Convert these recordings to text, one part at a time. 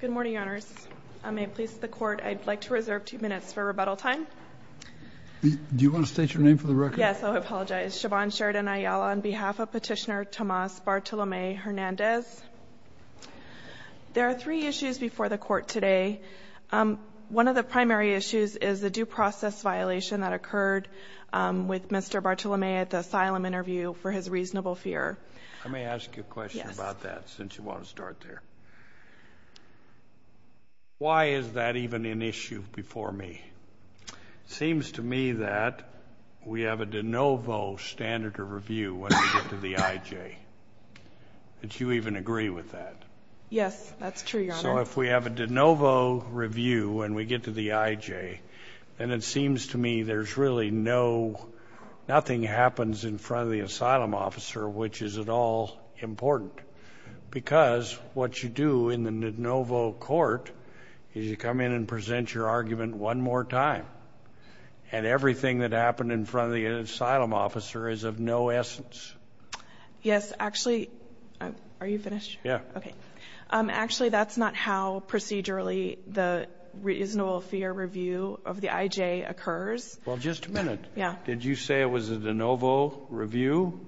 Good morning, Your Honors. I may please the Court. I'd like to reserve two minutes for rebuttal time. Do you want to state your name for the record? Yes, I'll apologize. Siobhan Sheridan Ayala on behalf of Petitioner Tomas Bartolome Hernandez. There are three issues before the Court today. One of the primary issues is the due process violation that occurred with Mr. Bartolome at the asylum interview for his reasonable fear. Let me ask you a question about that since you want to start there. Why is that even an issue before me? It seems to me that we have a de novo standard of review when we get to the IJ. Do you even agree with that? Yes, that's true, Your Honor. So if we have a de novo review when we get to the IJ, then it seems to me there's really no — nothing happens in front of the asylum officer, which is at all important, because what you do in the de novo court is you come in and present your argument one more time, and everything that happened in front of the asylum officer is of no essence. Yes, actually — are you finished? Yeah. Okay. Actually, that's not how procedurally the reasonable fear review of the IJ occurs. Well, just a minute. Yeah. Did you say it was a de novo review?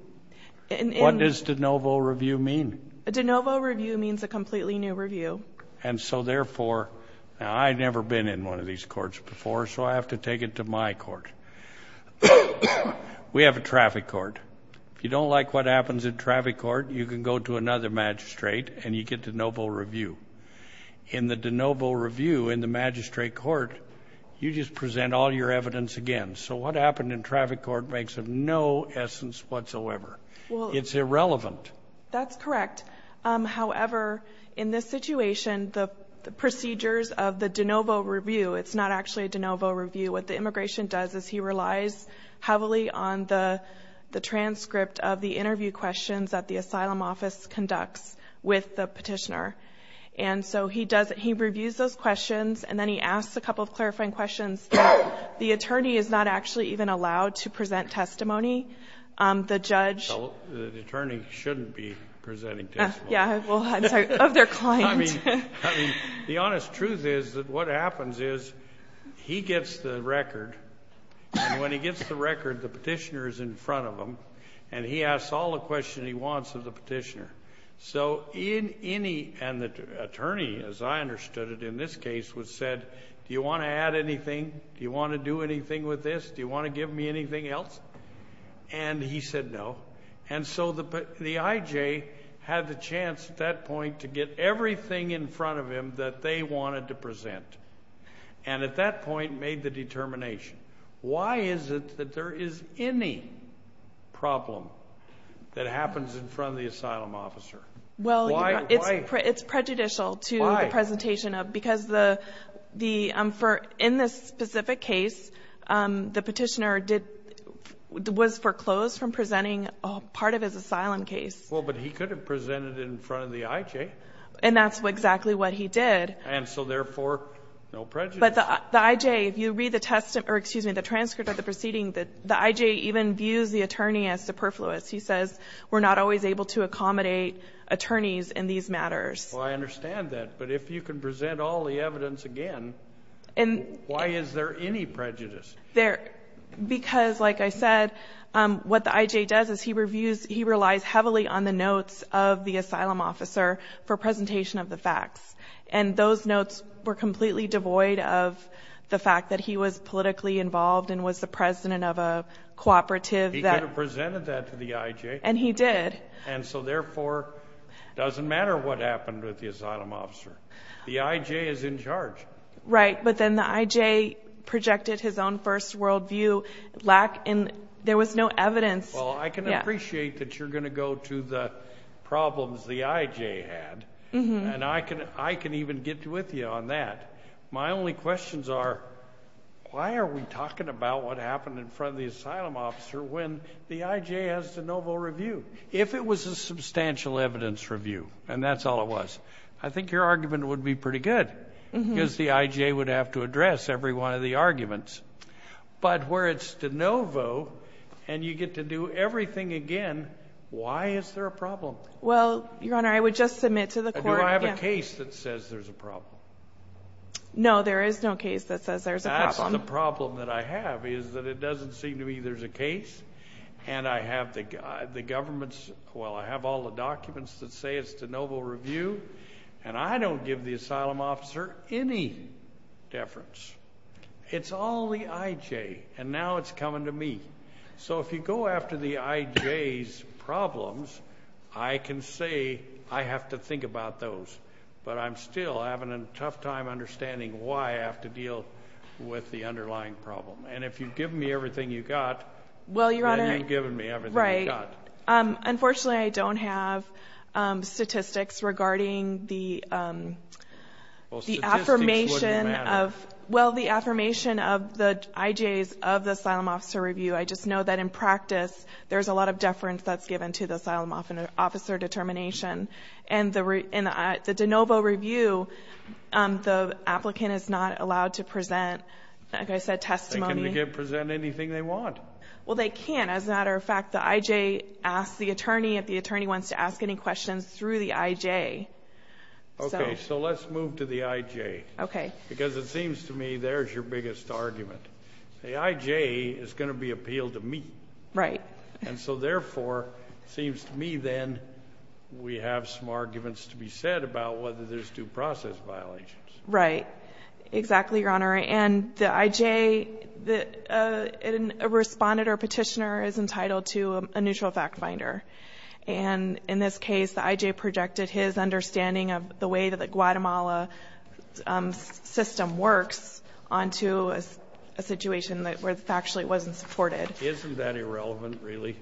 What does de novo review mean? A de novo review means a completely new review. And so, therefore — now, I've never been in one of these courts before, so I have to take it to my court. We have a traffic court. If you don't like what happens in traffic court, you can go to another magistrate and you get de novo review. In the de novo review in the magistrate court, you just present all your evidence again. So what happened in traffic court makes of no essence whatsoever. It's irrelevant. That's correct. However, in this situation, the procedures of the de novo review — it's not actually a de novo review. What the immigration does is he relies heavily on the transcript of the interview questions that the asylum office conducts with the petitioner. And so he does — he reviews those questions, and then he asks a couple of clarifying questions. The attorney is not actually even allowed to present testimony. The judge — The attorney shouldn't be presenting testimony. Yeah. Well, I'm sorry. Of their client. The honest truth is that what happens is he gets the record, and when he gets the record, the petitioner is in front of him, and he asks all the questions he wants of the petitioner. So in any — and the attorney, as I understood it in this case, was said, do you want to add anything? Do you want to do anything with this? Do you want to give me anything else? And he said no. And so the IJ had the chance at that point to get everything in front of him that they wanted to present, and at that point made the determination. Why is it that there is any problem that happens in front of the asylum officer? Why? It's prejudicial to the presentation of — Why? In this specific case, the petitioner did — was foreclosed from presenting part of his asylum case. Well, but he could have presented it in front of the IJ. And that's exactly what he did. And so, therefore, no prejudice. But the IJ, if you read the transcript of the proceeding, the IJ even views the attorney as superfluous. He says we're not always able to accommodate attorneys in these matters. Well, I understand that. But if you can present all the evidence again, why is there any prejudice? Because, like I said, what the IJ does is he reviews — he relies heavily on the notes of the asylum officer for presentation of the facts. And those notes were completely devoid of the fact that he was politically involved and was the president of a cooperative that — He could have presented that to the IJ. And he did. And so, therefore, it doesn't matter what happened with the asylum officer. The IJ is in charge. Right. But then the IJ projected his own first world view. There was no evidence. Well, I can appreciate that you're going to go to the problems the IJ had. And I can even get with you on that. My only questions are, why are we talking about what happened in front of the asylum officer when the IJ has the noble review? If it was a substantial evidence review and that's all it was, I think your argument would be pretty good, because the IJ would have to address every one of the arguments. But where it's de novo and you get to do everything again, why is there a problem? Well, Your Honor, I would just submit to the court — Do I have a case that says there's a problem? No, there is no case that says there's a problem. That's the problem that I have, is that it doesn't seem to me there's a case. And I have the government's — well, I have all the documents that say it's de novo review. And I don't give the asylum officer any deference. It's all the IJ. And now it's coming to me. So if you go after the IJ's problems, I can say I have to think about those. But I'm still having a tough time understanding why I have to deal with the underlying problem. And if you've given me everything you've got, then you've given me everything you've got. Well, Your Honor, right. Unfortunately, I don't have statistics regarding the affirmation of — Well, statistics wouldn't matter. Well, the affirmation of the IJ's — of the asylum officer review. I just know that in practice there's a lot of deference that's given to the asylum officer determination. And the de novo review, the applicant is not allowed to present, like I said, testimony. They can present anything they want. Well, they can't. As a matter of fact, the IJ asks the attorney if the attorney wants to ask any questions through the IJ. Okay. So let's move to the IJ. Okay. Because it seems to me there's your biggest argument. The IJ is going to be appealed to me. Right. And so, therefore, it seems to me then we have some arguments to be said about whether there's due process violations. Right. Exactly, Your Honor. And the IJ, a respondent or petitioner is entitled to a neutral fact finder. And in this case, the IJ projected his understanding of the way that the Guatemala system works onto a situation where factually it wasn't supported. Isn't that irrelevant, really?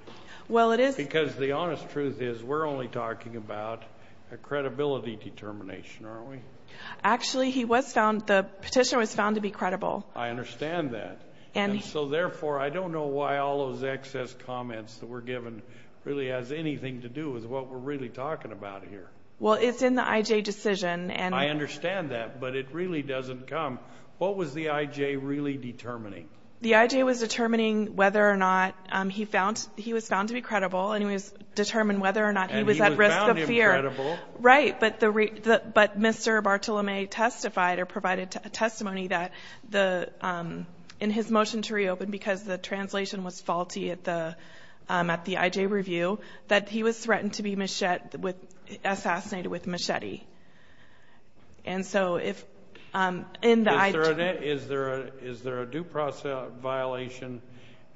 Well, it is. Because the honest truth is we're only talking about a credibility determination, aren't we? Actually, he was found, the petitioner was found to be credible. I understand that. And so, therefore, I don't know why all those excess comments that were given really has anything to do with what we're really talking about here. Well, it's in the IJ decision. I understand that, but it really doesn't come. What was the IJ really determining? The IJ was determining whether or not he found, he was found to be credible and he was determined whether or not he was at risk of fear. And he was found to be credible. Right. But Mr. Bartolome testified or provided testimony that the, in his motion to reopen because the translation was faulty at the IJ review, that he was threatened to be machete, assassinated with machete. And so if, in the IJ. Is there a due process violation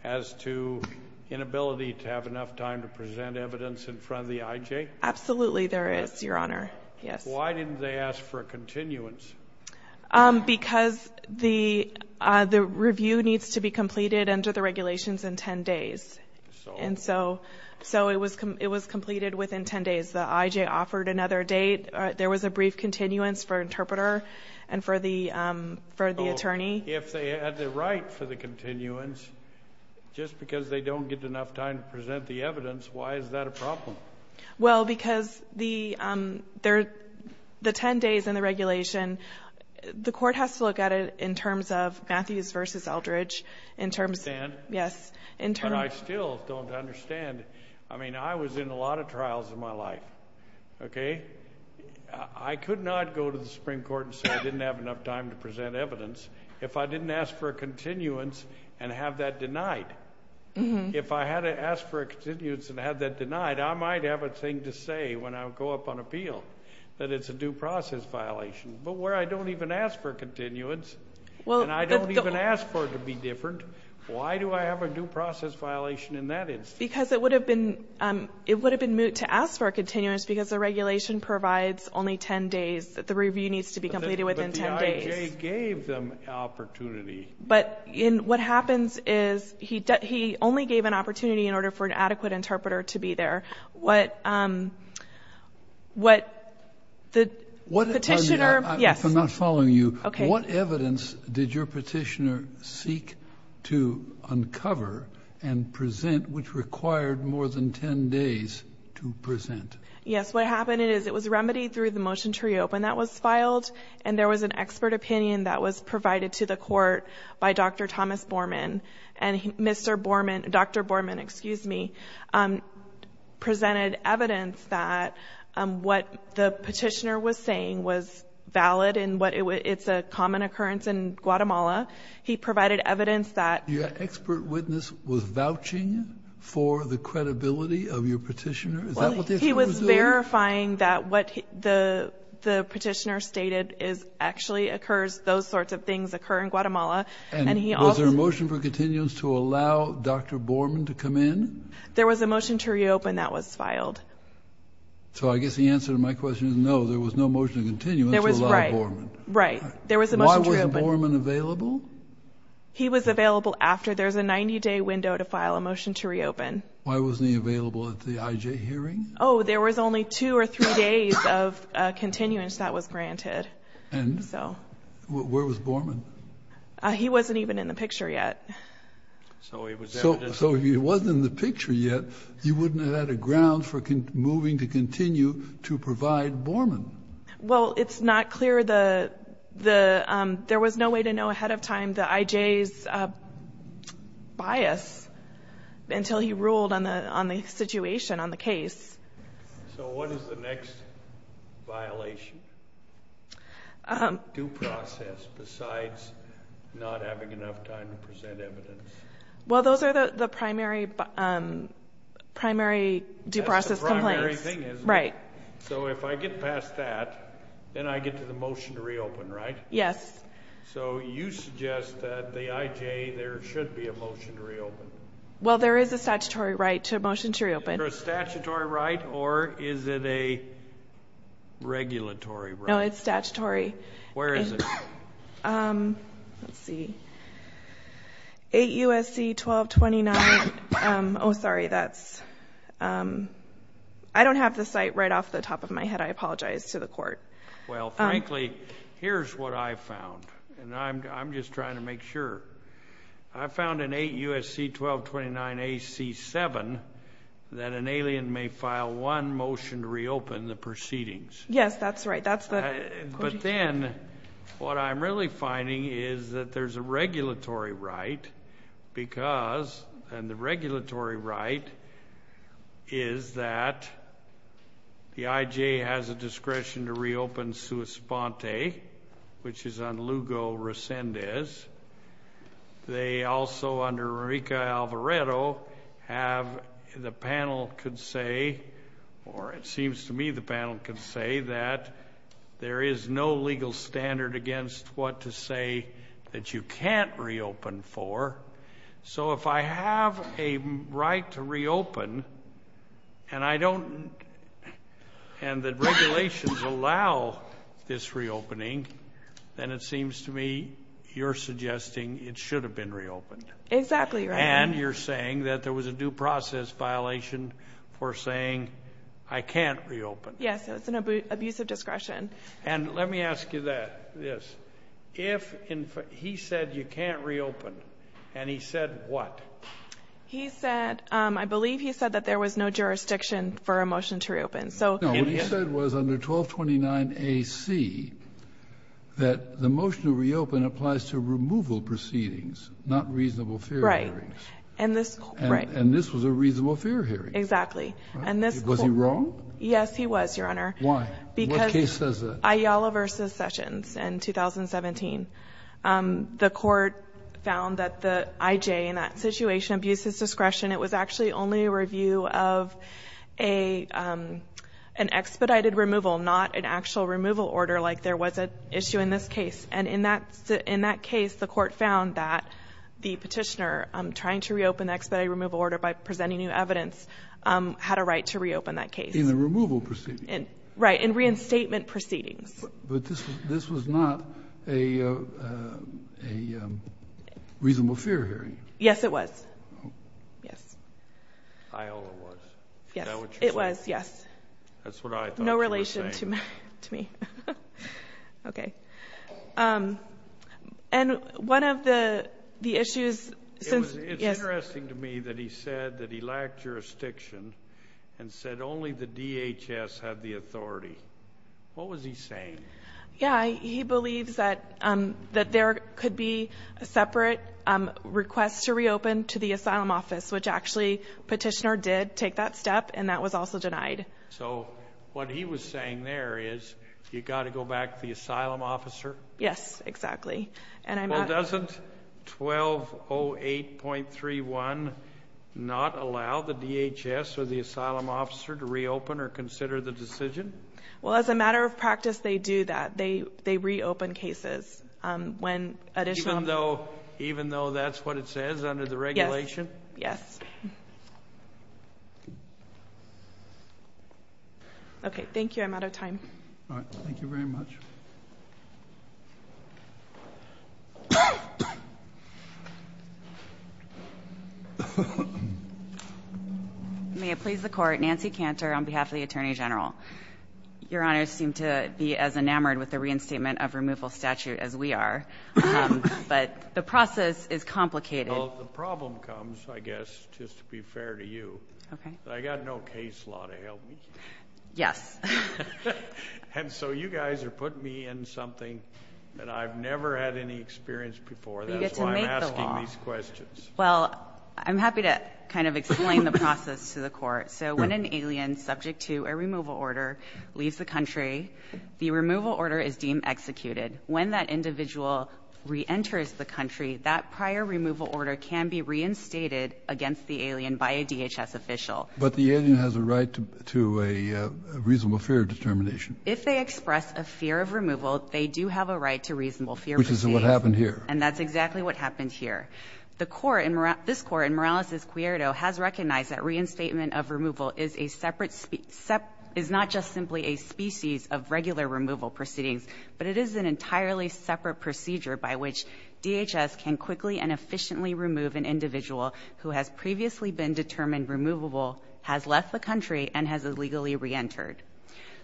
as to inability to have enough time to present evidence in front of the IJ? Absolutely there is, Your Honor. Yes. Why didn't they ask for a continuance? Because the review needs to be completed under the regulations in 10 days. So? And so it was completed within 10 days. The IJ offered another date. There was a brief continuance for interpreter and for the attorney. If they had the right for the continuance, just because they don't get enough time to present the evidence, why is that a problem? Well, because the 10 days in the regulation, the court has to look at it in terms of Matthews v. Eldridge. I understand. Yes. Okay. I could not go to the Supreme Court and say I didn't have enough time to present evidence if I didn't ask for a continuance and have that denied. If I had asked for a continuance and had that denied, I might have a thing to say when I go up on appeal that it's a due process violation. But where I don't even ask for a continuance and I don't even ask for it to be different, why do I have a due process violation in that instance? Because it would have been moot to ask for a continuance because the regulation provides only 10 days. The review needs to be completed within 10 days. But the IJ gave them opportunity. But what happens is he only gave an opportunity in order for an adequate interpreter to be there. What the petitioner – yes. I'm not following you. Okay. What evidence did your petitioner seek to uncover and present which required more than 10 days to present? Yes. What happened is it was remedied through the motion to reopen that was filed. And there was an expert opinion that was provided to the court by Dr. Thomas Borman. And Mr. Borman – Dr. Borman, excuse me, presented evidence that what the petitioner was saying was valid and it's a common occurrence in Guatemala. He provided evidence that – Your expert witness was vouching for the credibility of your petitioner? Is that what the expert was doing? He was verifying that what the petitioner stated actually occurs – those sorts of things occur in Guatemala. And was there a motion for continuance to allow Dr. Borman to come in? There was a motion to reopen that was filed. So I guess the answer to my question is no, there was no motion to continuance to allow Borman. Right. Why wasn't Borman available? He was available after. There's a 90-day window to file a motion to reopen. Why wasn't he available at the IJ hearing? Oh, there was only two or three days of continuance that was granted. And where was Borman? He wasn't even in the picture yet. So if he wasn't in the picture yet, you wouldn't have had a ground for moving to continue to provide Borman. Well, it's not clear the – there was no way to know ahead of time the IJ's bias until he ruled on the situation, on the case. So what is the next violation? Due process, besides not having enough time to present evidence. Well, those are the primary due process complaints. That's the primary thing, isn't it? Right. So if I get past that, then I get to the motion to reopen, right? Yes. So you suggest that the IJ, there should be a motion to reopen. Well, there is a statutory right to a motion to reopen. Is there a statutory right or is it a regulatory right? No, it's statutory. Where is it? Let's see. 8 U.S.C. 1229. Oh, sorry, that's – I don't have the site right off the top of my head. I apologize to the court. Well, frankly, here's what I found, and I'm just trying to make sure. I found in 8 U.S.C. 1229 AC7 that an alien may file one motion to reopen the proceedings. Yes, that's right. But then what I'm really finding is that there's a regulatory right because – and the regulatory right is that the IJ has a discretion to reopen which is on Lugo Resendez. They also, under Enrique Alvarado, have the panel could say or it seems to me the panel could say that there is no legal standard against what to say that you can't reopen for. So if I have a right to reopen and I don't – and the regulations allow this reopening, then it seems to me you're suggesting it should have been reopened. Exactly right. And you're saying that there was a due process violation for saying I can't reopen. Yes, it's an abusive discretion. And let me ask you this. If he said you can't reopen, and he said what? He said – I believe he said that there was no jurisdiction for a motion to reopen. No, what he said was under 1229 A.C. that the motion to reopen applies to removal proceedings, not reasonable fair hearings. Right. And this was a reasonable fair hearing. Exactly. Was he wrong? Yes, he was, Your Honor. Why? What case says that? Ayala v. Sessions in 2017. The court found that the IJ in that situation abuses discretion. It was actually only a review of an expedited removal, not an actual removal order like there was at issue in this case. And in that case, the court found that the Petitioner, trying to reopen the expedited removal order by presenting new evidence, had a right to reopen that case. In the removal proceedings. Right, in reinstatement proceedings. But this was not a reasonable fair hearing. Yes, it was. Yes. Ayala was. Yes. Is that what you're saying? It was, yes. That's what I thought you were saying. No relation to me. Okay. And one of the issues since... It's interesting to me that he said that he lacked jurisdiction and said only the DHS had the authority. What was he saying? Yeah, he believes that there could be a separate request to reopen to the Asylum Office, which actually Petitioner did take that step and that was also denied. So what he was saying there is you got to go back to the Asylum Officer? Yes, exactly. And I'm not... Well, doesn't 1208.31 not allow the DHS or the Asylum Officer to reopen or consider the decision? Well, as a matter of practice, they do that. They reopen cases when additional... Even though that's what it says under the regulation? Yes. Yes. Okay, thank you. I'm out of time. All right. Thank you very much. May it please the Court. Nancy Cantor on behalf of the Attorney General. Your Honor, I seem to be as enamored with the reinstatement of removal statute as we are, but the process is complicated. Well, the problem comes, I guess, just to be fair to you. Okay. I got no case law to help me. Yes. And so you guys are putting me in something that I've never had any experience before. You get to make the law. That's why I'm asking these questions. Well, I'm happy to kind of explain the process to the Court. So when an alien subject to a removal order leaves the country, the removal order is deemed executed. When that individual reenters the country, that prior removal order can be reinstated against the alien by a DHS official. But the alien has a right to a reasonable fear determination. If they express a fear of removal, they do have a right to reasonable fear. Which is what happened here. And that's exactly what happened here. This Court in Morales v. Cuierdo has recognized that reinstatement of removal is not just simply a species of regular removal proceedings, but it is an entirely separate procedure by which DHS can quickly and efficiently remove an individual who has previously been determined removable, has left the country, and has illegally reentered.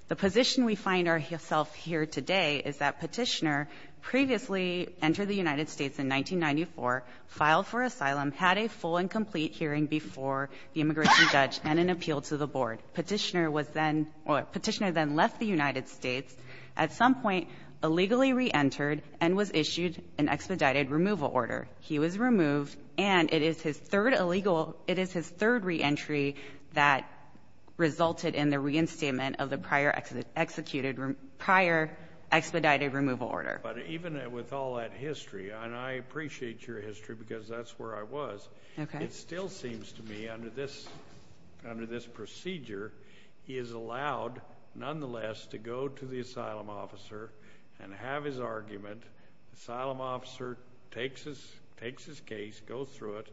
The position we find ourself here today is that Petitioner previously entered the United States in 1994, filed for asylum, had a full and complete hearing before the immigration judge, and an appeal to the board. Petitioner was then or Petitioner then left the United States, at some point illegally reentered, and was issued an expedited removal order. He was removed, and it is his third illegal — it is his third reentry that resulted in the reinstatement of the prior executed — prior expedited removal order. But even with all that history, and I appreciate your history because that's where I was. Okay. It still seems to me, under this procedure, he is allowed, nonetheless, to go to the asylum officer and have his argument. Asylum officer takes his case, goes through it,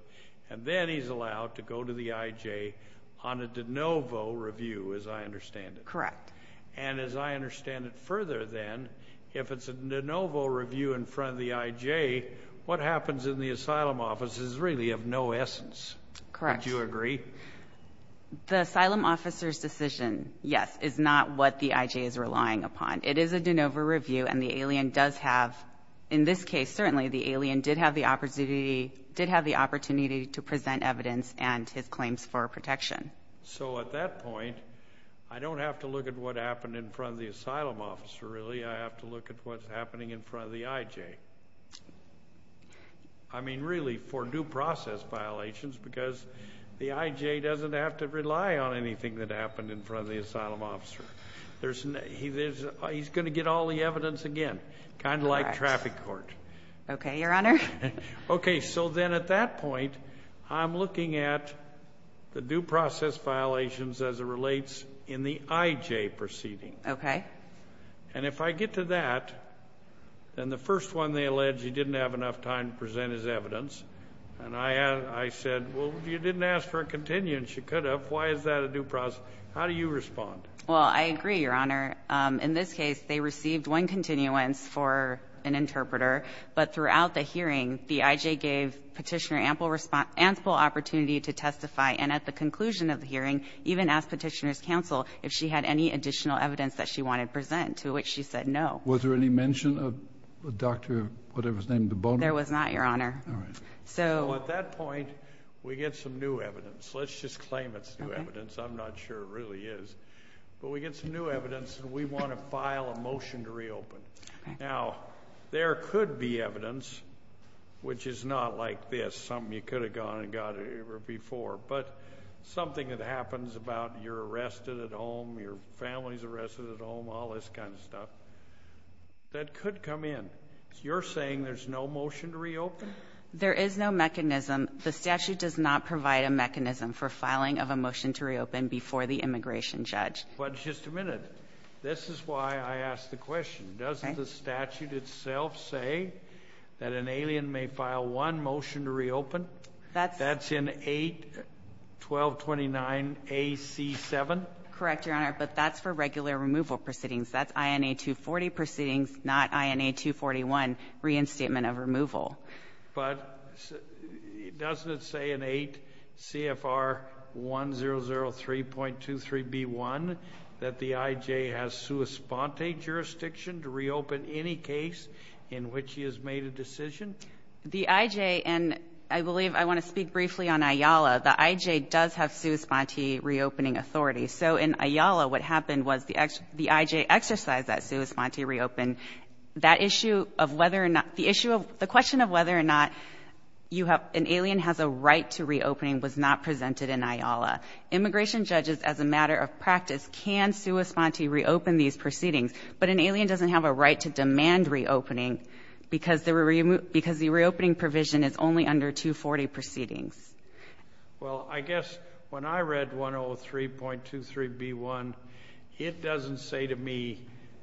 and then he's allowed to go to the IJ on a de novo review, as I understand it. Correct. And as I understand it further, then, if it's a de novo review in front of the IJ, what happens in the asylum office is really of no essence. Correct. Don't you agree? The asylum officer's decision, yes, is not what the IJ is relying upon. It is a de novo review, and the alien does have — in this case, certainly, the alien did have the opportunity to present evidence and his claims for protection. So, at that point, I don't have to look at what happened in front of the asylum officer, really. I have to look at what's happening in front of the IJ. I mean, really, for due process violations, because the IJ doesn't have to rely on anything that happened in front of the asylum officer. He's going to get all the evidence again, kind of like traffic court. Okay, Your Honor. Okay, so then, at that point, I'm looking at the due process violations as it relates in the IJ proceeding. Okay. And if I get to that, then the first one they allege he didn't have enough time to present his evidence, and I said, well, you didn't ask for a continuance. You could have. Why is that a due process? How do you respond? Well, I agree, Your Honor. In this case, they received one continuance for an interpreter. But throughout the hearing, the IJ gave Petitioner ample opportunity to testify. And at the conclusion of the hearing, even asked Petitioner's counsel if she had any additional evidence that she wanted to present, to which she said no. Was there any mention of Dr. whatever's name, Debono? There was not, Your Honor. All right. So at that point, we get some new evidence. Let's just claim it's new evidence. Okay. I'm not sure it really is. But we get some new evidence, and we want to file a motion to reopen. Okay. Now, there could be evidence, which is not like this, something you could have gone and got before, but something that happens about you're arrested at home, your family's arrested at home, all this kind of stuff, that could come in. You're saying there's no motion to reopen? There is no mechanism. The statute does not provide a mechanism for filing of a motion to reopen before the immigration judge. But just a minute. This is why I asked the question. Doesn't the statute itself say that an alien may file one motion to reopen? That's in 81229AC7? Correct, Your Honor. But that's for regular removal proceedings. That's INA240 proceedings, not INA241 reinstatement of removal. But doesn't it say in 8CFR1003.23B1 that the I.J. has sua sponte jurisdiction to reopen any case in which he has made a decision? The I.J. and I believe I want to speak briefly on Ayala. The I.J. does have sua sponte reopening authority. So in Ayala, what happened was the I.J. exercised that sua sponte reopen. The question of whether or not an alien has a right to reopen was not presented in Ayala. Immigration judges, as a matter of practice, can sua sponte reopen these proceedings. But an alien doesn't have a right to demand reopening because the reopening provision is only under 240 proceedings. Well, I guess when I read 103.23B1, it doesn't say to me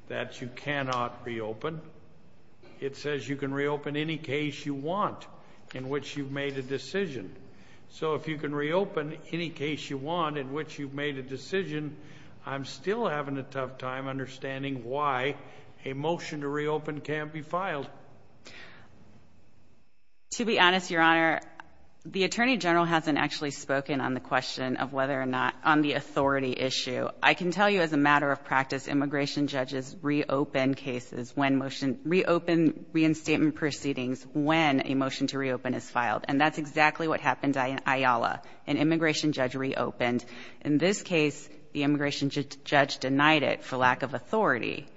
that you cannot reopen. It says you can reopen any case you want in which you've made a decision. So if you can reopen any case you want in which you've made a decision, I'm still having a tough time understanding why a motion to reopen can't be filed. To be honest, Your Honor, the Attorney General hasn't actually spoken on the question of whether or not on the authority issue. I can tell you as a matter of practice, immigration judges reopen cases, reopen reinstatement proceedings when a motion to reopen is filed. And that's exactly what happened in Ayala. An immigration judge reopened. In this case, the immigration judge denied it for lack of authority.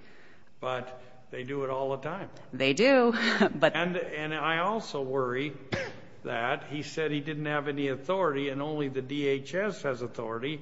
But they do it all the time. They do. And I also worry that he said he didn't have any authority and only the DHS has authority.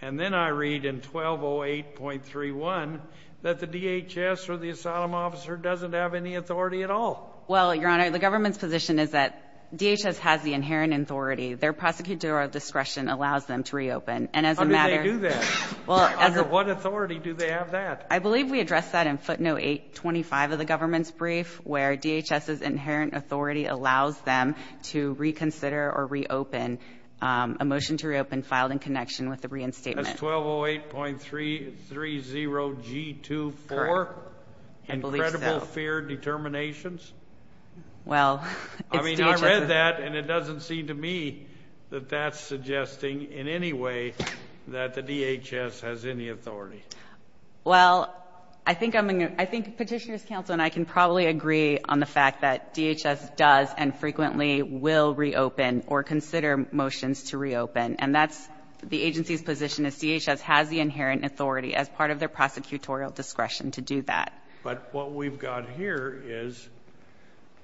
And then I read in 1208.31 that the DHS or the asylum officer doesn't have any authority at all. Well, Your Honor, the government's position is that DHS has the inherent authority. Their prosecutorial discretion allows them to reopen. How do they do that? Under what authority do they have that? I believe we addressed that in footnote 825 of the government's brief, where DHS's inherent authority allows them to reconsider or reopen a motion to reopen filed in connection with the reinstatement. That's 1208.30G24? Correct. I believe so. Incredible fear determinations? Well, it's DHS. I mean, I read that, and it doesn't seem to me that that's suggesting in any way that the DHS has any authority. Well, I think Petitioner's Counsel and I can probably agree on the fact that DHS does and frequently will reopen or consider motions to reopen, and that's the agency's position is DHS has the inherent authority as part of their prosecutorial discretion to do that. But what we've got here is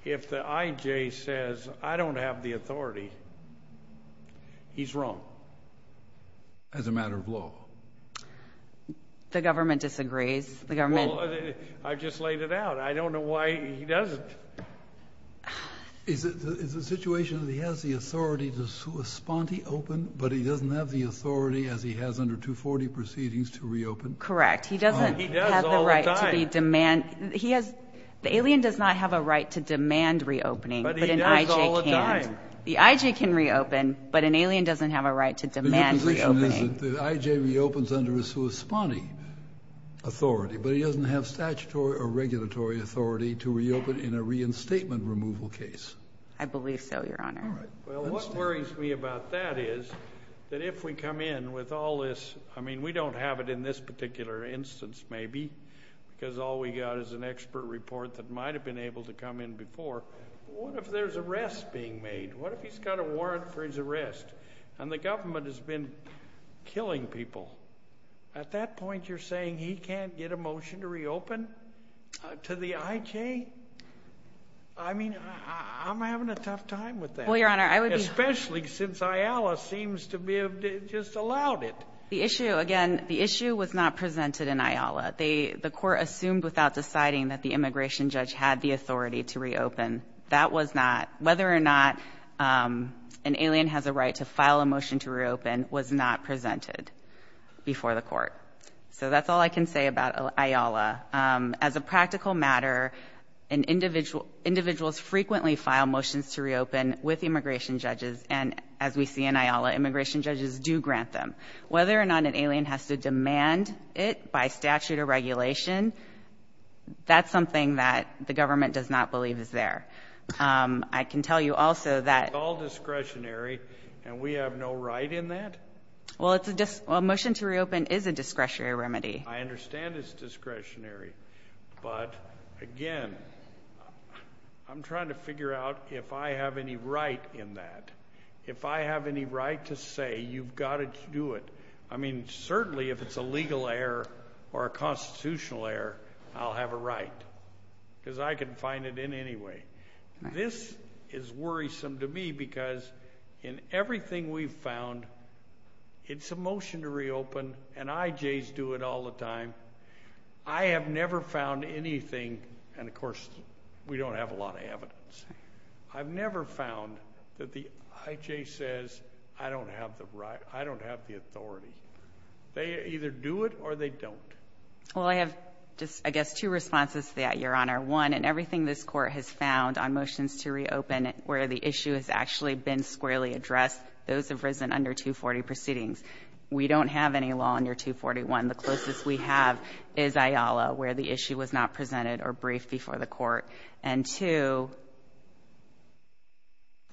if the IJ says, I don't have the authority, he's wrong. That's a matter of law. The government disagrees. Well, I just laid it out. I don't know why he doesn't. Is it the situation that he has the authority to respond to open, but he doesn't have the authority, as he has under 240 proceedings, to reopen? Correct. He doesn't have the right to demand. The alien does not have a right to demand reopening, but an IJ can. The IJ can reopen, but an alien doesn't have a right to demand reopening. The position is that the IJ reopens under a corresponding authority, but he doesn't have statutory or regulatory authority to reopen in a reinstatement removal case. I believe so, Your Honor. All right. Well, what worries me about that is that if we come in with all this, I mean, we don't have it in this particular instance, maybe, because all we've got is an expert report that might have been able to come in before. What if there's arrests being made? What if he's got a warrant for his arrest and the government has been killing people? At that point, you're saying he can't get a motion to reopen to the IJ? I mean, I'm having a tough time with that. Well, Your Honor, I would be. Especially since IALA seems to have just allowed it. The issue, again, the issue was not presented in IALA. The court assumed without deciding that the immigration judge had the authority to reopen. That was not, whether or not an alien has a right to file a motion to reopen, was not presented before the court. So that's all I can say about IALA. As a practical matter, individuals frequently file motions to reopen with immigration judges, and as we see in IALA, immigration judges do grant them. Whether or not an alien has to demand it by statute or regulation, that's something that the government does not believe is there. I can tell you also that we have no right in that. Well, a motion to reopen is a discretionary remedy. I understand it's discretionary. But, again, I'm trying to figure out if I have any right in that. If I have any right to say you've got to do it, I mean, certainly if it's a legal error or a constitutional error, I'll have a right because I can find it in any way. This is worrisome to me because in everything we've found, it's a motion to reopen, and IJs do it all the time. I have never found anything, and, of course, we don't have a lot of evidence. I've never found that the IJ says, I don't have the right, I don't have the authority. They either do it or they don't. Well, I have just, I guess, two responses to that, Your Honor. One, in everything this Court has found on motions to reopen where the issue has actually been squarely addressed, those have risen under 240 proceedings. We don't have any law under 241. The closest we have is IALA where the issue was not presented or briefed before the Court. And, two,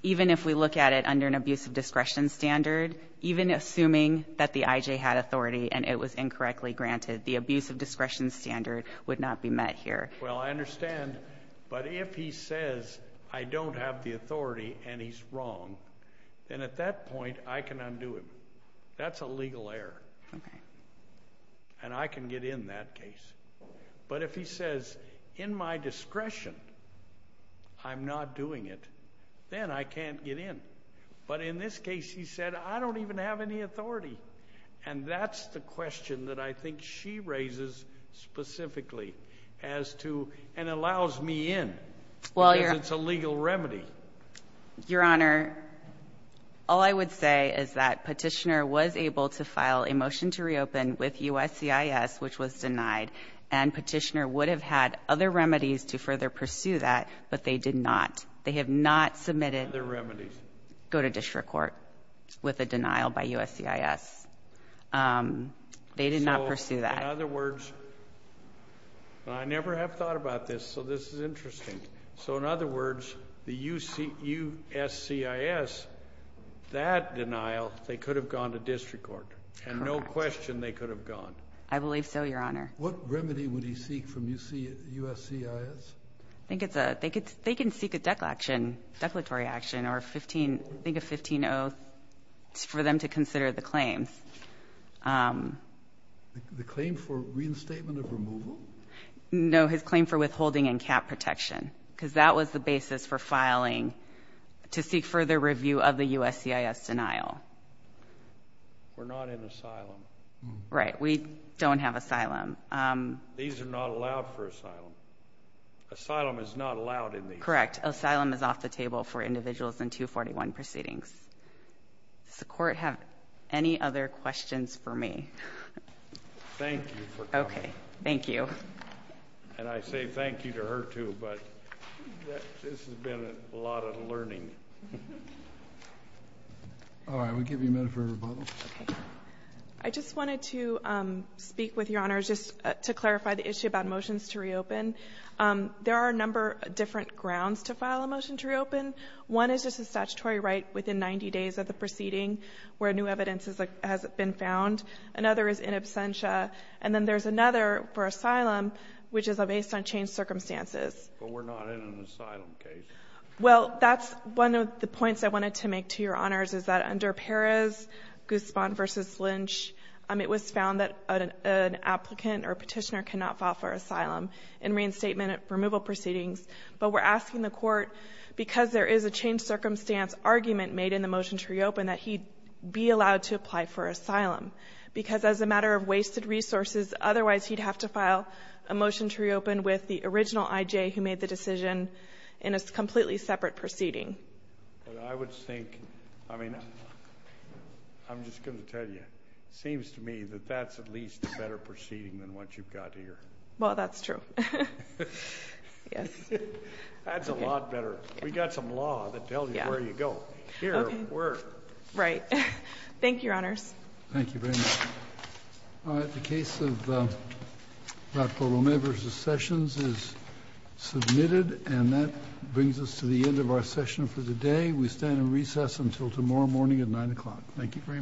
even if we look at it under an abuse of discretion standard, even assuming that the IJ had authority and it was incorrectly granted, the abuse of discretion standard would not be met here. Well, I understand, but if he says, I don't have the authority and he's wrong, then at that point I can undo him. That's a legal error, and I can get in that case. But if he says, in my discretion, I'm not doing it, then I can't get in. But in this case, he said, I don't even have any authority. And that's the question that I think she raises specifically as to, and allows me in because it's a legal remedy. Your Honor, all I would say is that Petitioner was able to file a motion to reopen with USCIS, which was denied. And Petitioner would have had other remedies to further pursue that, but they did not. They have not submitted go to district court with a denial by USCIS. They did not pursue that. So, in other words, and I never have thought about this, so this is interesting. So, in other words, the USCIS, that denial, they could have gone to district court. Correct. There's no question they could have gone. I believe so, Your Honor. What remedy would he seek from USCIS? They can seek a declaratory action or I think a 15-0 for them to consider the claims. The claim for reinstatement of removal? No, his claim for withholding and cap protection, because that was the basis for filing to seek further review of the USCIS denial. We're not in asylum. Right. We don't have asylum. These are not allowed for asylum. Asylum is not allowed in these. Correct. Asylum is off the table for individuals in 241 proceedings. Does the Court have any other questions for me? Thank you for coming. Okay. Thank you. And I say thank you to her, too, but this has been a lot of learning. All right. We'll give you a minute for rebuttal. Okay. I just wanted to speak with Your Honors just to clarify the issue about motions to reopen. There are a number of different grounds to file a motion to reopen. One is just a statutory right within 90 days of the proceeding where new evidence has been found. Another is in absentia. And then there's another for asylum, which is based on changed circumstances. But we're not in an asylum case. Well, that's one of the points I wanted to make to Your Honors, is that under Perez, Guzman v. Lynch, it was found that an applicant or petitioner cannot file for asylum in reinstatement removal proceedings. But we're asking the Court, because there is a changed circumstance argument made in the motion to reopen, that he be allowed to apply for asylum. Because as a matter of wasted resources, otherwise he'd have to file a motion to reopen with the original I.J. who made the decision in a completely separate proceeding. But I would think, I mean, I'm just going to tell you, it seems to me that that's at least a better proceeding than what you've got here. Well, that's true. Yes. That's a lot better. We've got some law that tells you where you go. Okay. Here, we're. Right. Thank you, Your Honors. Thank you very much. All right. The case of Dr. Romero v. Sessions is submitted. And that brings us to the end of our session for today. We stand in recess until tomorrow morning at 9 o'clock. Thank you very much.